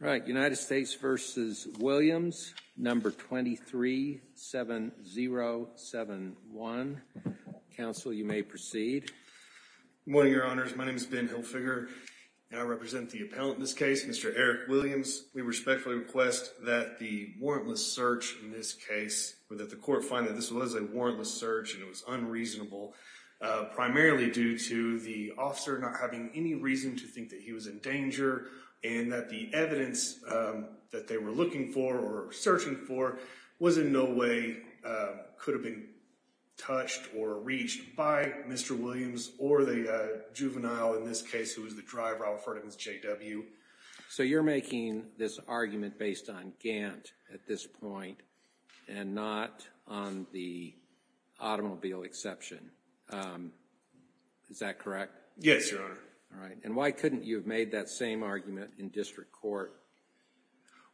Right. United States v. Williams, number 237071. Counsel, you may proceed. Good morning, Your Honors. My name is Ben Hilfiger, and I represent the appellant in this case, Mr. Eric Williams. We respectfully request that the warrantless search in this case, or that the court find that this was a warrantless search and it was unreasonable, primarily due to the officer not having any reason to think that he was in danger and that the evidence that they were looking for or searching for was in no way, could have been touched or reached by Mr. Williams or the juvenile in this case, who was the driver, Alfred Evans, J.W. So you're making this argument based on Gant at this point and not on the automobile exception. Is that correct? Yes, Your Honor. All right. And why couldn't you have made that same argument in district court?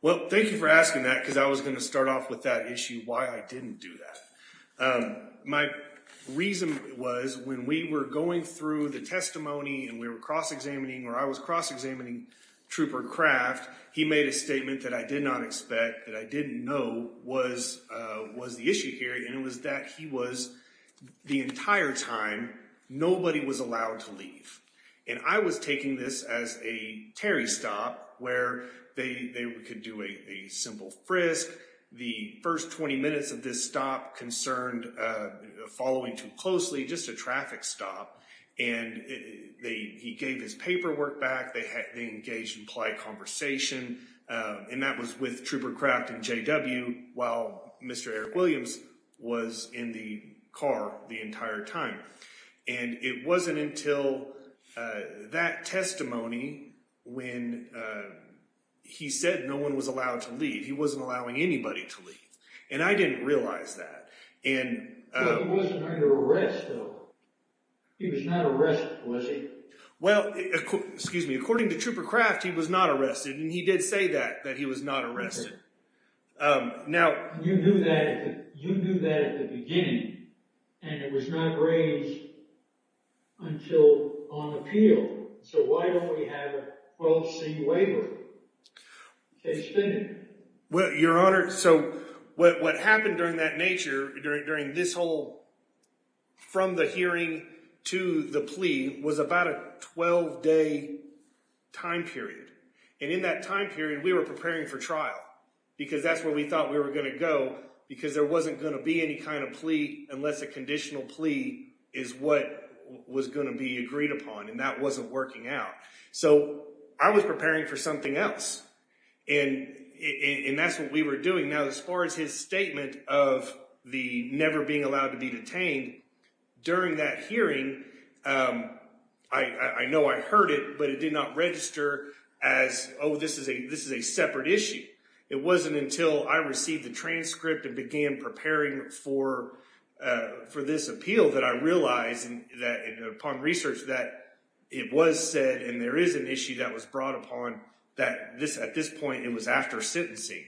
Well, thank you for asking that, because I was going to start off with that issue, why I didn't do that. My reason was when we were going through the testimony and we were cross-examining, or I was cross-examining Trooper Kraft, he made a statement that I did not expect, that I didn't know was the issue here, and it was that he was, the entire time, nobody was allowed to leave. And I was taking this as a Terry stop, where they could do a simple frisk, the first 20 minutes of this stop concerned following too closely, just a traffic stop. And he gave his paperwork back, they engaged in polite conversation, and that was with Trooper Kraft and J.W., while Mr. Eric Williams was in the car the entire time. And it wasn't until that testimony when he said no one was allowed to leave, he wasn't allowing anybody to leave, and I didn't realize that. But he wasn't under arrest, though. He was not arrested, was he? Well, excuse me, according to Trooper Kraft, he was not arrested, and he did say that, that he was not arrested. You knew that at the beginning, and it was not raised until on appeal, so why don't we have a 12-C waiver? Well, Your Honor, so what happened during that nature, during this whole from the hearing to the plea, was about a 12-day time period. And in that time period, we were preparing for trial, because that's where we thought we were going to go, because there wasn't going to be any kind of plea unless a conditional plea is what was going to be agreed upon, and that wasn't working out. So I was preparing for something else, and that's what we were doing. Now, as far as his statement of the never being allowed to be detained, during that hearing, I know I heard it, but it did not register as, oh, this is a separate issue. It wasn't until I received the transcript and began preparing for this appeal that I realized upon research that it was said, and there is an issue that was brought upon, that at this point it was after sentencing.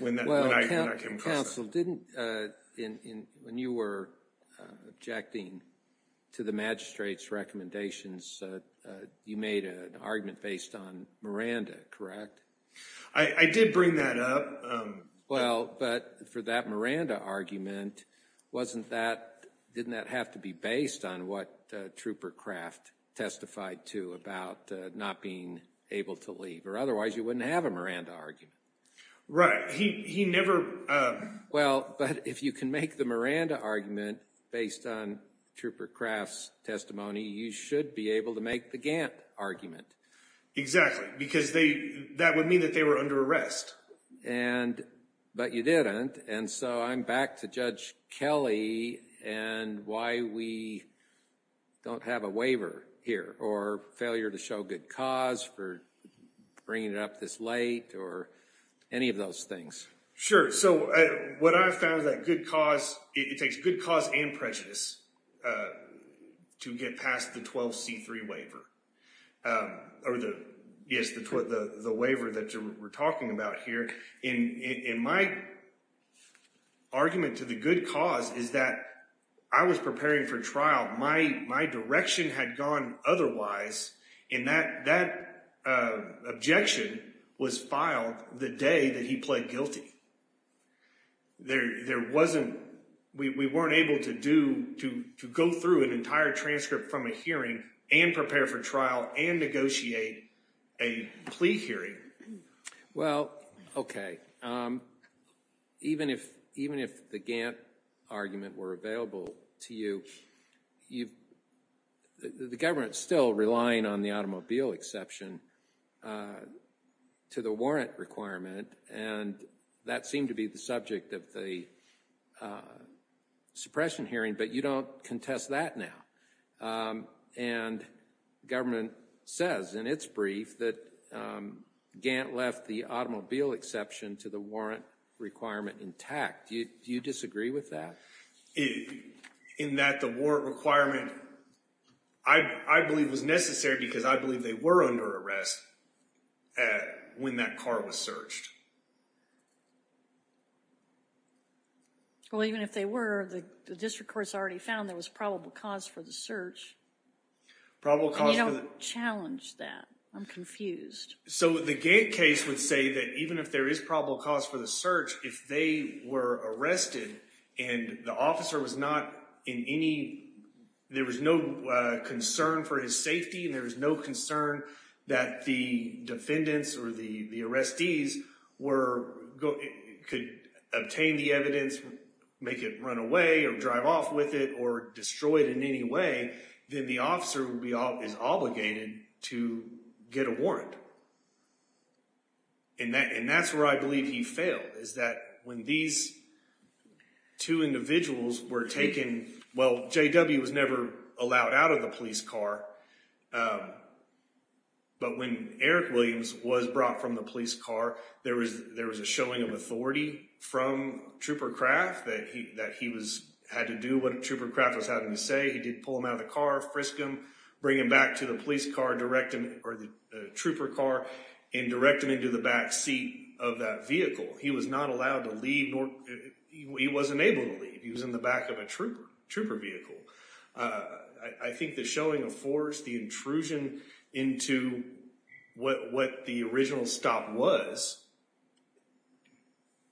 Well, counsel, didn't, when you were objecting to the magistrate's recommendations, you made an argument based on Miranda, correct? I did bring that up. Well, but for that Miranda argument, wasn't that, didn't that have to be based on what Trooper Kraft testified to about not being able to leave, or otherwise you wouldn't have a Miranda argument. Right. He never... Well, but if you can make the Miranda argument based on Trooper Kraft's testimony, you should be able to make the Gantt argument. Exactly, because that would mean that they were under arrest. And, but you didn't, and so I'm back to Judge Kelly and why we don't have a waiver here, or failure to show good cause for bringing it up this late, or any of those things. Sure. So what I've found is that good cause, it takes good cause and prejudice to get past the 12C3 waiver, or the, yes, the waiver that we're talking about here. And my argument to the good cause is that I was preparing for trial, my direction had gone otherwise, and that objection was filed the day that he pled guilty. There wasn't, we weren't able to do, to go through an entire transcript from a hearing, and prepare for trial, and negotiate a plea hearing. Well, okay. Even if, even if the Gantt argument were available to you, you've, the government's still relying on the automobile exception to the warrant requirement, and that seemed to be the subject of the suppression hearing, but you don't contest that now. And government says in its brief that Gantt left the automobile exception to the warrant requirement intact. Do you disagree with that? In that the warrant requirement, I believe was necessary because I believe they were under arrest when that car was searched. Well, even if they were, the district court's already found there was probable cause for the search. Probable cause for the- And you don't challenge that. I'm confused. So, the Gantt case would say that even if there is probable cause for the search, if they were arrested, and the officer was not in any, there was no concern for his safety, and there was no concern that the defendants or the, the arrestees were, could obtain the evidence, make it run away, or drive off with it, or destroy it in any way, then the officer would be, is obligated to get a warrant. And that's where I believe he failed, is that when these two individuals were taken, well, J.W. was never allowed out of the police car, but when Eric Williams was brought from the police car, there was a showing of authority from Trooper Kraft that he was, had to do what Trooper Kraft was having to say. He did pull him out of the car, frisk him, bring him back to the police car, or the Trooper car, and direct him into the back seat of that vehicle. He was not allowed to leave, he wasn't able to leave. He was in the back of a Trooper vehicle. I think the showing of force, the intrusion into what the original stop was,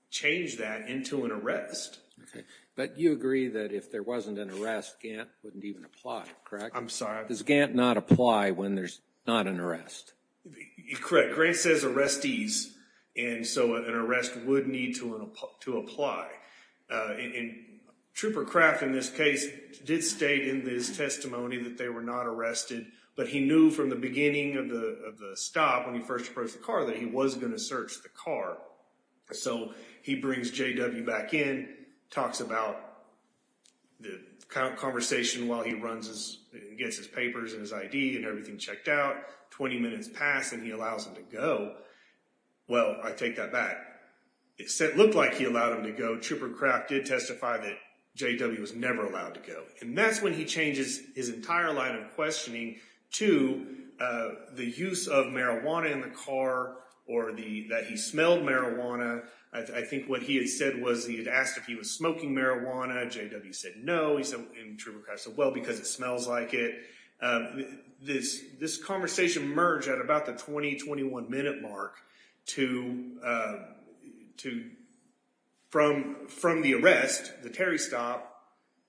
changed that into an arrest. But you agree that if there wasn't an arrest, Gantt wouldn't even apply, correct? I'm sorry? Does Gantt not apply when there's not an arrest? Correct. Grantt says arrestees, and so an arrest would need to apply. And Trooper Kraft, in this case, did state in his testimony that they were not arrested, but he knew from the beginning of the stop, when he first approached the car, that he was going to search the car. So, he brings J.W. back in, talks about the conversation while he gets his papers and his ID and everything checked out. 20 minutes pass and he allows him to go. Well, I take that back. It looked like he allowed him to go. Trooper Kraft did testify that J.W. was never allowed to go. And that's when he changes his entire line of questioning to the use of marijuana in the car, or that he smelled marijuana. I think what he had said was he had asked if he was smoking marijuana, J.W. said no, and Trooper Kraft said, well, because it smells like it. This conversation merged at about the 20-21 minute mark from the arrest, the Terry stop,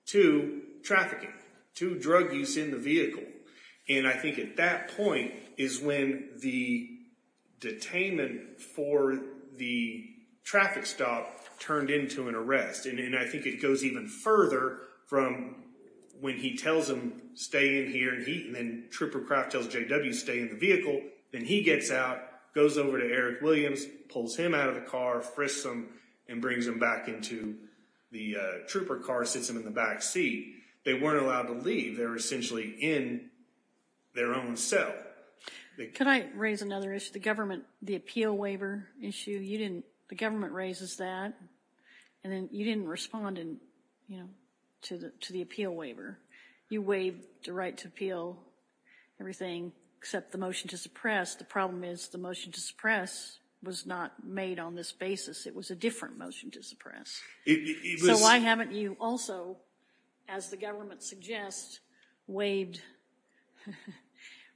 to trafficking, to drug use in the vehicle. And I think at that point is when the detainment for the traffic stop turned into an arrest. And I think it goes even further from when he tells him, stay in here, and then Trooper Kraft tells J.W. stay in the vehicle, then he gets out, goes over to Eric Williams, pulls him out of the car, frisks him, and brings him back into the trooper car, sits him in the back seat. They weren't allowed to leave. They were essentially in their own cell. Could I raise another issue? The appeal waiver issue, the government raises that, and then you didn't respond to the appeal waiver. You waived the right to appeal everything except the motion to suppress. The problem is the motion to suppress was not made on this basis. It was a different motion to suppress. So why haven't you also, as the government suggests, waived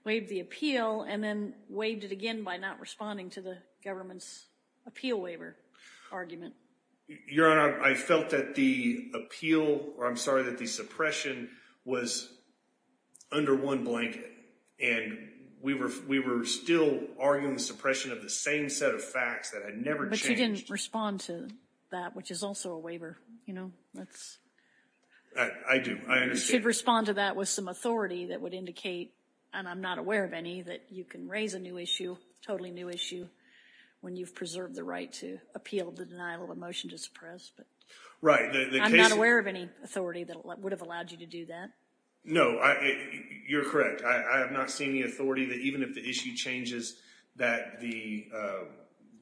the appeal, and then waived it again by not responding to the government's appeal waiver argument? Your Honor, I felt that the appeal, or I'm sorry, that the suppression was under one blanket. And we were still arguing the suppression of the same set of facts that had never changed. You didn't respond to that, which is also a waiver, you know. I do. I understand. You should respond to that with some authority that would indicate, and I'm not aware of any, that you can raise a new issue, a totally new issue, when you've preserved the right to appeal the denial of a motion to suppress. Right. I'm not aware of any authority that would have allowed you to do that. No, you're correct. I have not seen the authority that even if the issue changes that the...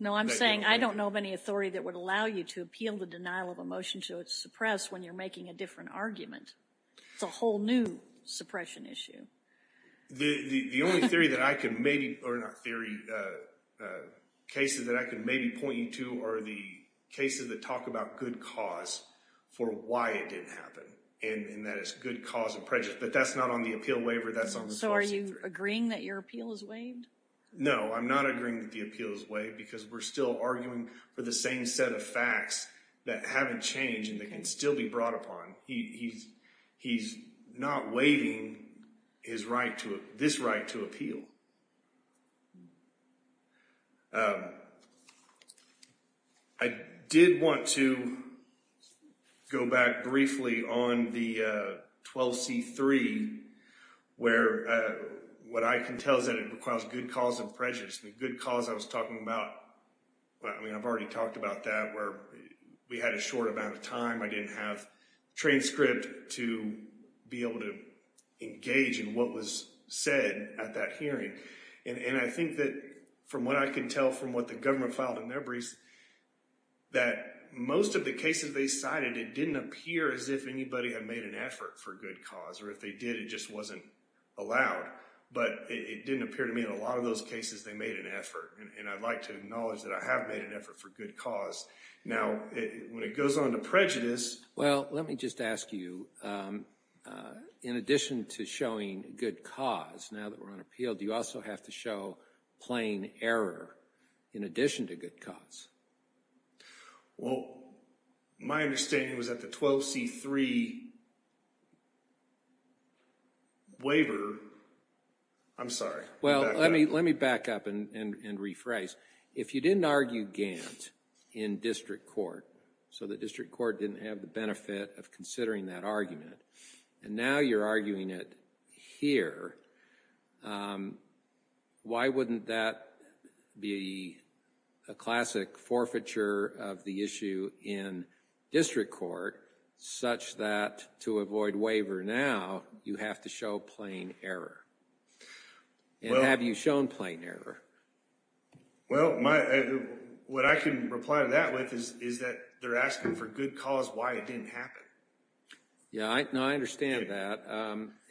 No, I'm saying I don't know of any authority that would allow you to appeal the denial of a motion to suppress when you're making a different argument. It's a whole new suppression issue. The only theory that I can maybe, or not theory, cases that I can maybe point you to are the cases that talk about good cause for why it didn't happen, and that it's good cause of prejudice. But that's not on the appeal waiver, that's on the Clause C3. So are you agreeing that your appeal is waived? No, I'm not agreeing that the appeal is waived because we're still arguing for the same set of facts that haven't changed and that can still be brought upon. He's not waiving his right to, this right to appeal. I did want to go back briefly on the 12C3 where what I can tell is that it requires good cause and prejudice. The good cause I was talking about, I mean I've already talked about that, where we had a short amount of time, I didn't have a transcript to be able to engage in what was said at that hearing. And I think that from what I can tell from what the government filed in their briefs, that most of the cases they cited, it didn't appear as if anybody had made an effort for good cause or if they did, it just wasn't allowed. But it didn't appear to me in a lot of those cases they made an effort. And I'd like to acknowledge that I have made an effort for good cause. Now, when it goes on to prejudice... Well, let me just ask you, in addition to showing good cause now that we're on appeal, do you also have to show plain error in addition to good cause? Well, my understanding was that the 12C3 waiver... I'm sorry, let me back up. Well, let me back up and rephrase. If you didn't argue Gant in district court, so the district court didn't have the benefit of considering that argument, and now you're arguing it here, why wouldn't that be a classic forfeiture of the issue in district court such that to avoid waiver now, you have to show plain error? And have you shown plain error? Well, what I can reply to that with is that they're asking for good cause why it didn't happen. Yeah, I understand that.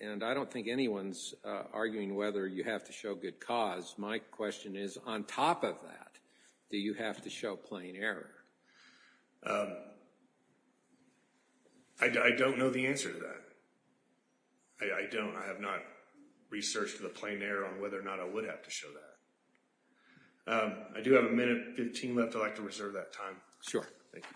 And I don't think anyone's arguing whether you have to show good cause. My question is, on top of that, do you have to show plain error? I don't know the answer to that. I don't. I have not researched the plain error on whether or not I would have to show that. I do have a minute and 15 left. I'd like to reserve that time. Sure. Thank you.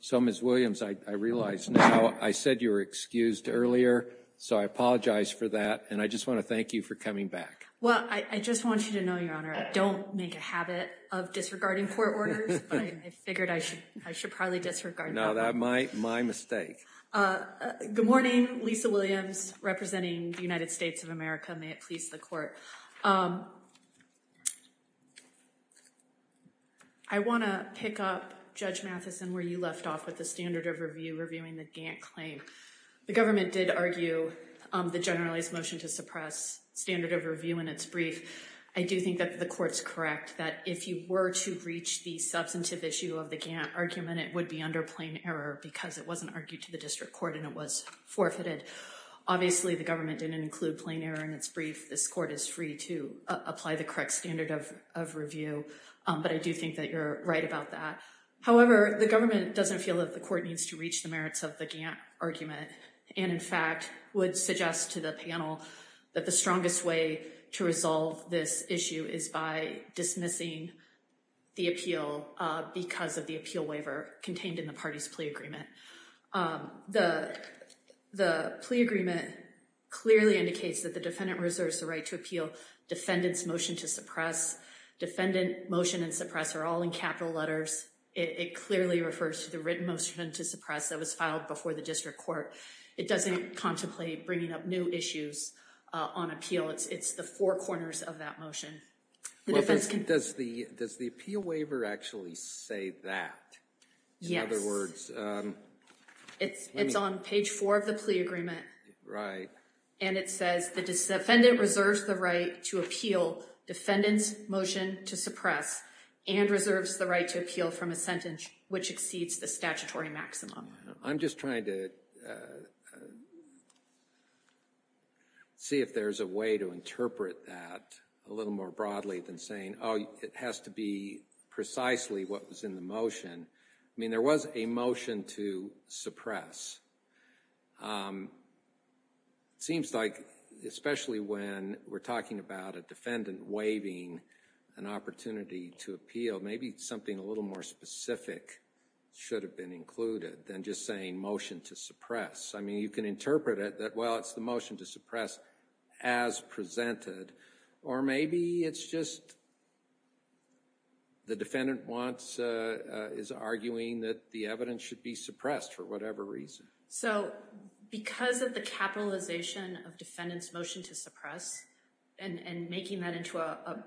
So, Ms. Williams, I realize now I said you were excused earlier, so I apologize for that, and I just want to thank you for coming back. Well, I just want you to know, Your Honor, I don't make a habit of disregarding court orders, but I figured I should probably disregard them. No, that's my mistake. Good morning. Lisa Williams, representing the United States of America. May it please the Court. I want to pick up, Judge Matheson, where you left off with the standard of review reviewing the Gantt claim. The government did argue the generalized motion to suppress standard of review in its brief. I do think that the Court's correct that if you were to reach the substantive issue of the Gantt argument, it would be under plain error because it wasn't argued to the district court and it was forfeited. Obviously, the government didn't include plain error in its brief. This Court is free to apply the correct standard of review, but I do think that you're right about that. However, the government doesn't feel that the Court needs to reach the merits of the Gantt argument and, in fact, would suggest to the panel that the strongest way to resolve this issue is by dismissing the appeal because of the appeal waiver contained in the party's plea agreement. The plea agreement clearly indicates that the defendant reserves the right to appeal. Defendant's motion to suppress, defendant motion and suppress are all in capital letters. It clearly refers to the written motion to suppress that was filed before the district court. It doesn't contemplate bringing up new issues on appeal. It's the four corners of that motion. Does the appeal waiver actually say that? Yes. In other words... It's on page four of the plea agreement. Right. And it says the defendant reserves the right to appeal, defendant's motion to suppress and reserves the right to appeal from a sentence which exceeds the statutory maximum. I'm just trying to see if there's a way to interpret that a little more broadly than saying, oh, it has to be precisely what was in the motion. I mean, there was a motion to suppress. It seems like, especially when we're talking about a defendant waiving an opportunity to appeal, maybe something a little more specific should have been included than just saying motion to suppress. I mean, you can interpret it that, well, it's the motion to suppress as presented or maybe it's just the defendant is arguing that the evidence should be suppressed for whatever reason. So because of the capitalization of defendant's motion to suppress and making that into a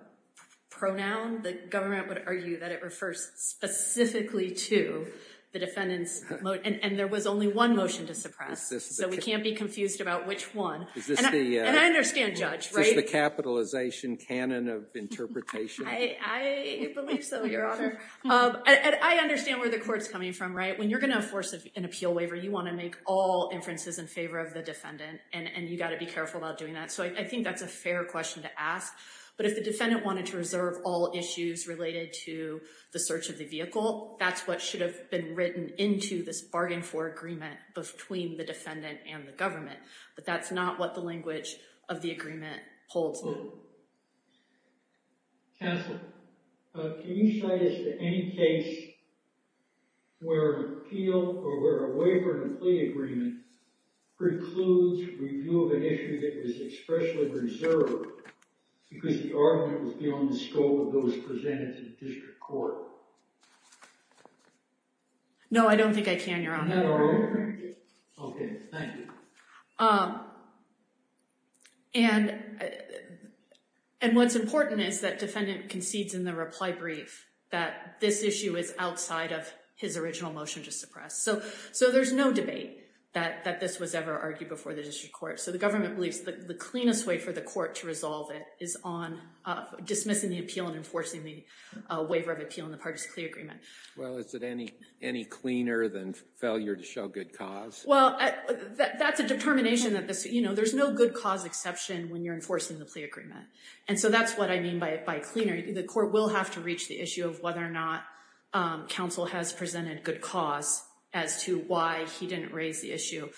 pronoun, the government would argue that it refers specifically to the defendant's motion and there was only one motion to suppress. So we can't be confused about which one. And I understand, Judge. Is this the capitalization canon of interpretation? I believe so, Your Honor. I understand where the court's coming from, right? When you're going to force an appeal waiver, you want to make all inferences in favor of the defendant and you've got to be careful about doing that. So I think that's a fair question to ask. But if the defendant wanted to reserve all issues related to the search of the vehicle, that's what should have been written into this bargain for agreement between the defendant and the government. But that's not what the language of the agreement holds. Counsel, can you cite us to any case where an appeal or where a waiver and plea agreement precludes review of an issue that was expressly reserved because the argument was beyond the scope of those presented to the district court? No, I don't think I can, Your Honor. Okay, thank you. And what's important is that defendant concedes in the reply brief that this issue is outside of his original motion to suppress. So there's no debate that this was ever argued before the district court. So the government believes the cleanest way for the court to resolve it is on dismissing the appeal and enforcing the waiver of appeal in the partisan plea agreement. Well, is it any cleaner than failure to show good cause? Well, that's a determination. You know, there's no good cause exception when you're enforcing the plea agreement. And so that's what I mean by cleaner. The court will have to reach the issue of whether or not counsel has presented good cause as to why he didn't raise the issue.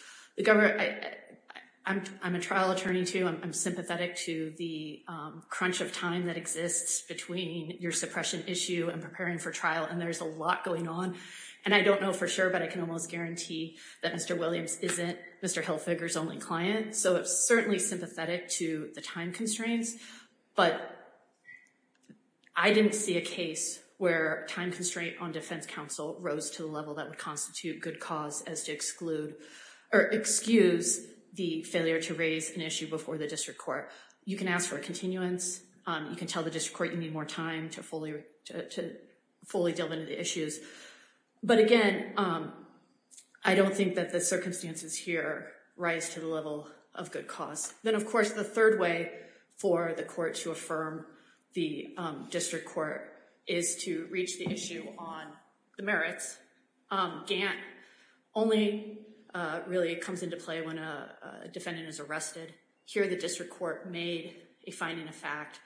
I'm a trial attorney, too. I'm sympathetic to the crunch of time that exists between your suppression issue and preparing for trial, and there's a lot going on. And I don't know for sure, but I can almost guarantee that Mr. Williams isn't Mr. Hilfiger's only client. So I'm certainly sympathetic to the time constraints. But I didn't see a case where time constraint on defense counsel rose to the level that would constitute good cause as to exclude or excuse the failure to raise an issue before the district court. You can ask for a continuance. You can tell the district court you need more time to fully delve into the issues. But again, I don't think that the circumstances here rise to the level of good cause. Then, of course, the third way for the court to affirm the district court is to reach the issue on the merits. Gant only really comes into play when a defendant is arrested. Here, the district court made a finding of fact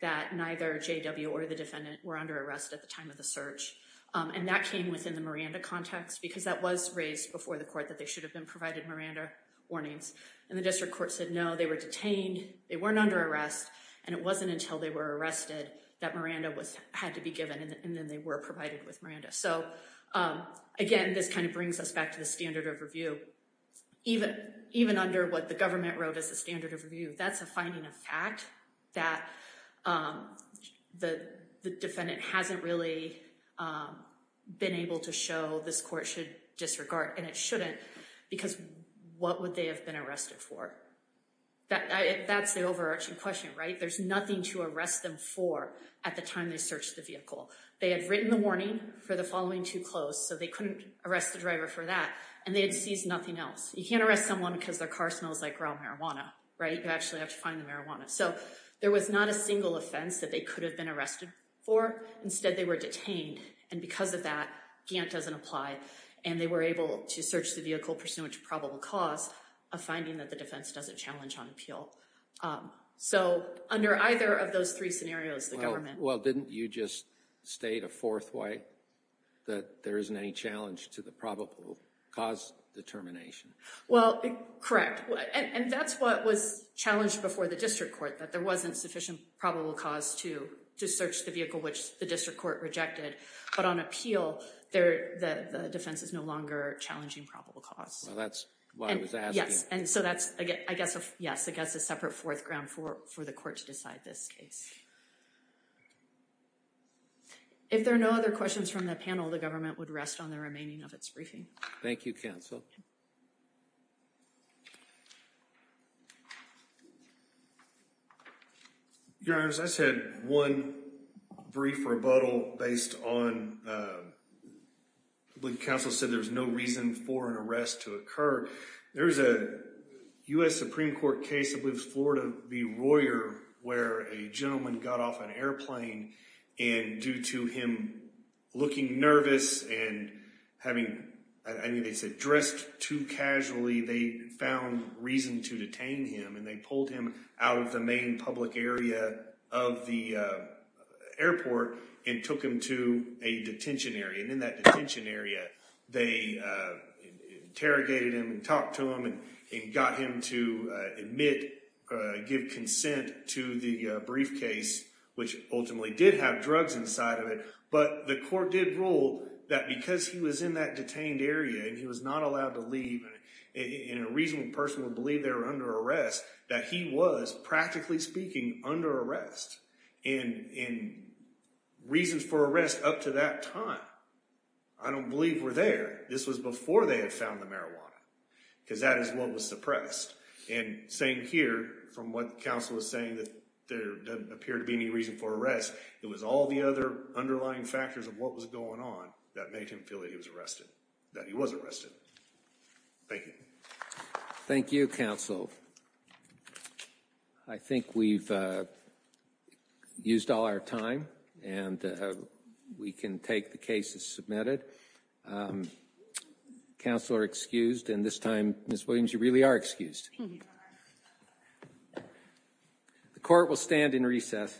that neither JW or the defendant were under arrest at the time of the search. And that came within the Miranda context because that was raised before the court that they should have been provided Miranda warnings. And the district court said no, they were detained, they weren't under arrest, and it wasn't until they were arrested that Miranda had to be given and then they were provided with Miranda. So again, this kind of brings us back to the standard of review. Even under what the government wrote as the standard of review, that's a finding of fact that the defendant hasn't really been able to show this court should disregard, and it shouldn't, because what would they have been arrested for? That's the overarching question, right? There's nothing to arrest them for at the time they searched the vehicle. They had written the warning for the following two clothes, so they couldn't arrest the driver for that, and they had seized nothing else. You can't arrest someone because their car smells like raw marijuana, right? You actually have to find the marijuana. So there was not a single offense that they could have been arrested for. Instead, they were detained, and because of that, Gant doesn't apply, and they were able to search the vehicle pursuant to probable cause, a finding that the defense doesn't challenge on appeal. So under either of those three scenarios, the government... Well, didn't you just state a fourth way, that there isn't any challenge to the probable cause determination? Well, correct. And that's what was challenged before the district court, that there wasn't sufficient probable cause to search the vehicle which the district court rejected, but on appeal, the defense is no longer challenging probable cause. Well, that's what I was asking. Yes, and so that's, I guess, a separate fourth ground for the court to decide this case. If there are no other questions from the panel, the government would rest on the remaining of its briefing. Thank you, counsel. Your Honors, I just had one brief rebuttal based on what counsel said, there's no reason for an arrest to occur. There's a U.S. Supreme Court case, I believe it was Florida v. Royer, where a gentleman got off an airplane, and due to him looking nervous and having, I mean, they said, dressed too casually, they found reason to detain him, and they pulled him out of the main public area of the airport and took him to a detention area, and in that detention area, they interrogated him and talked to him and got him to admit, give consent to the briefcase, which ultimately did have drugs inside of it, but the court did rule that because he was in that detained area and he was not allowed to leave, and a reasonable person would believe they were under arrest, that he was, practically speaking, under arrest, and reasons for arrest up to that time, I don't believe were there. This was before they had found the marijuana, because that is what was suppressed, and same here, from what counsel was saying, that there doesn't appear to be any reason for arrest, it was all the other underlying factors of what was going on that made him feel that he was arrested, that he was arrested. Thank you. Thank you, counsel. I think we've used all our time, and we can take the cases submitted. Counsel are excused, and this time, Ms. Williams, you really are excused. The court will stand in recess.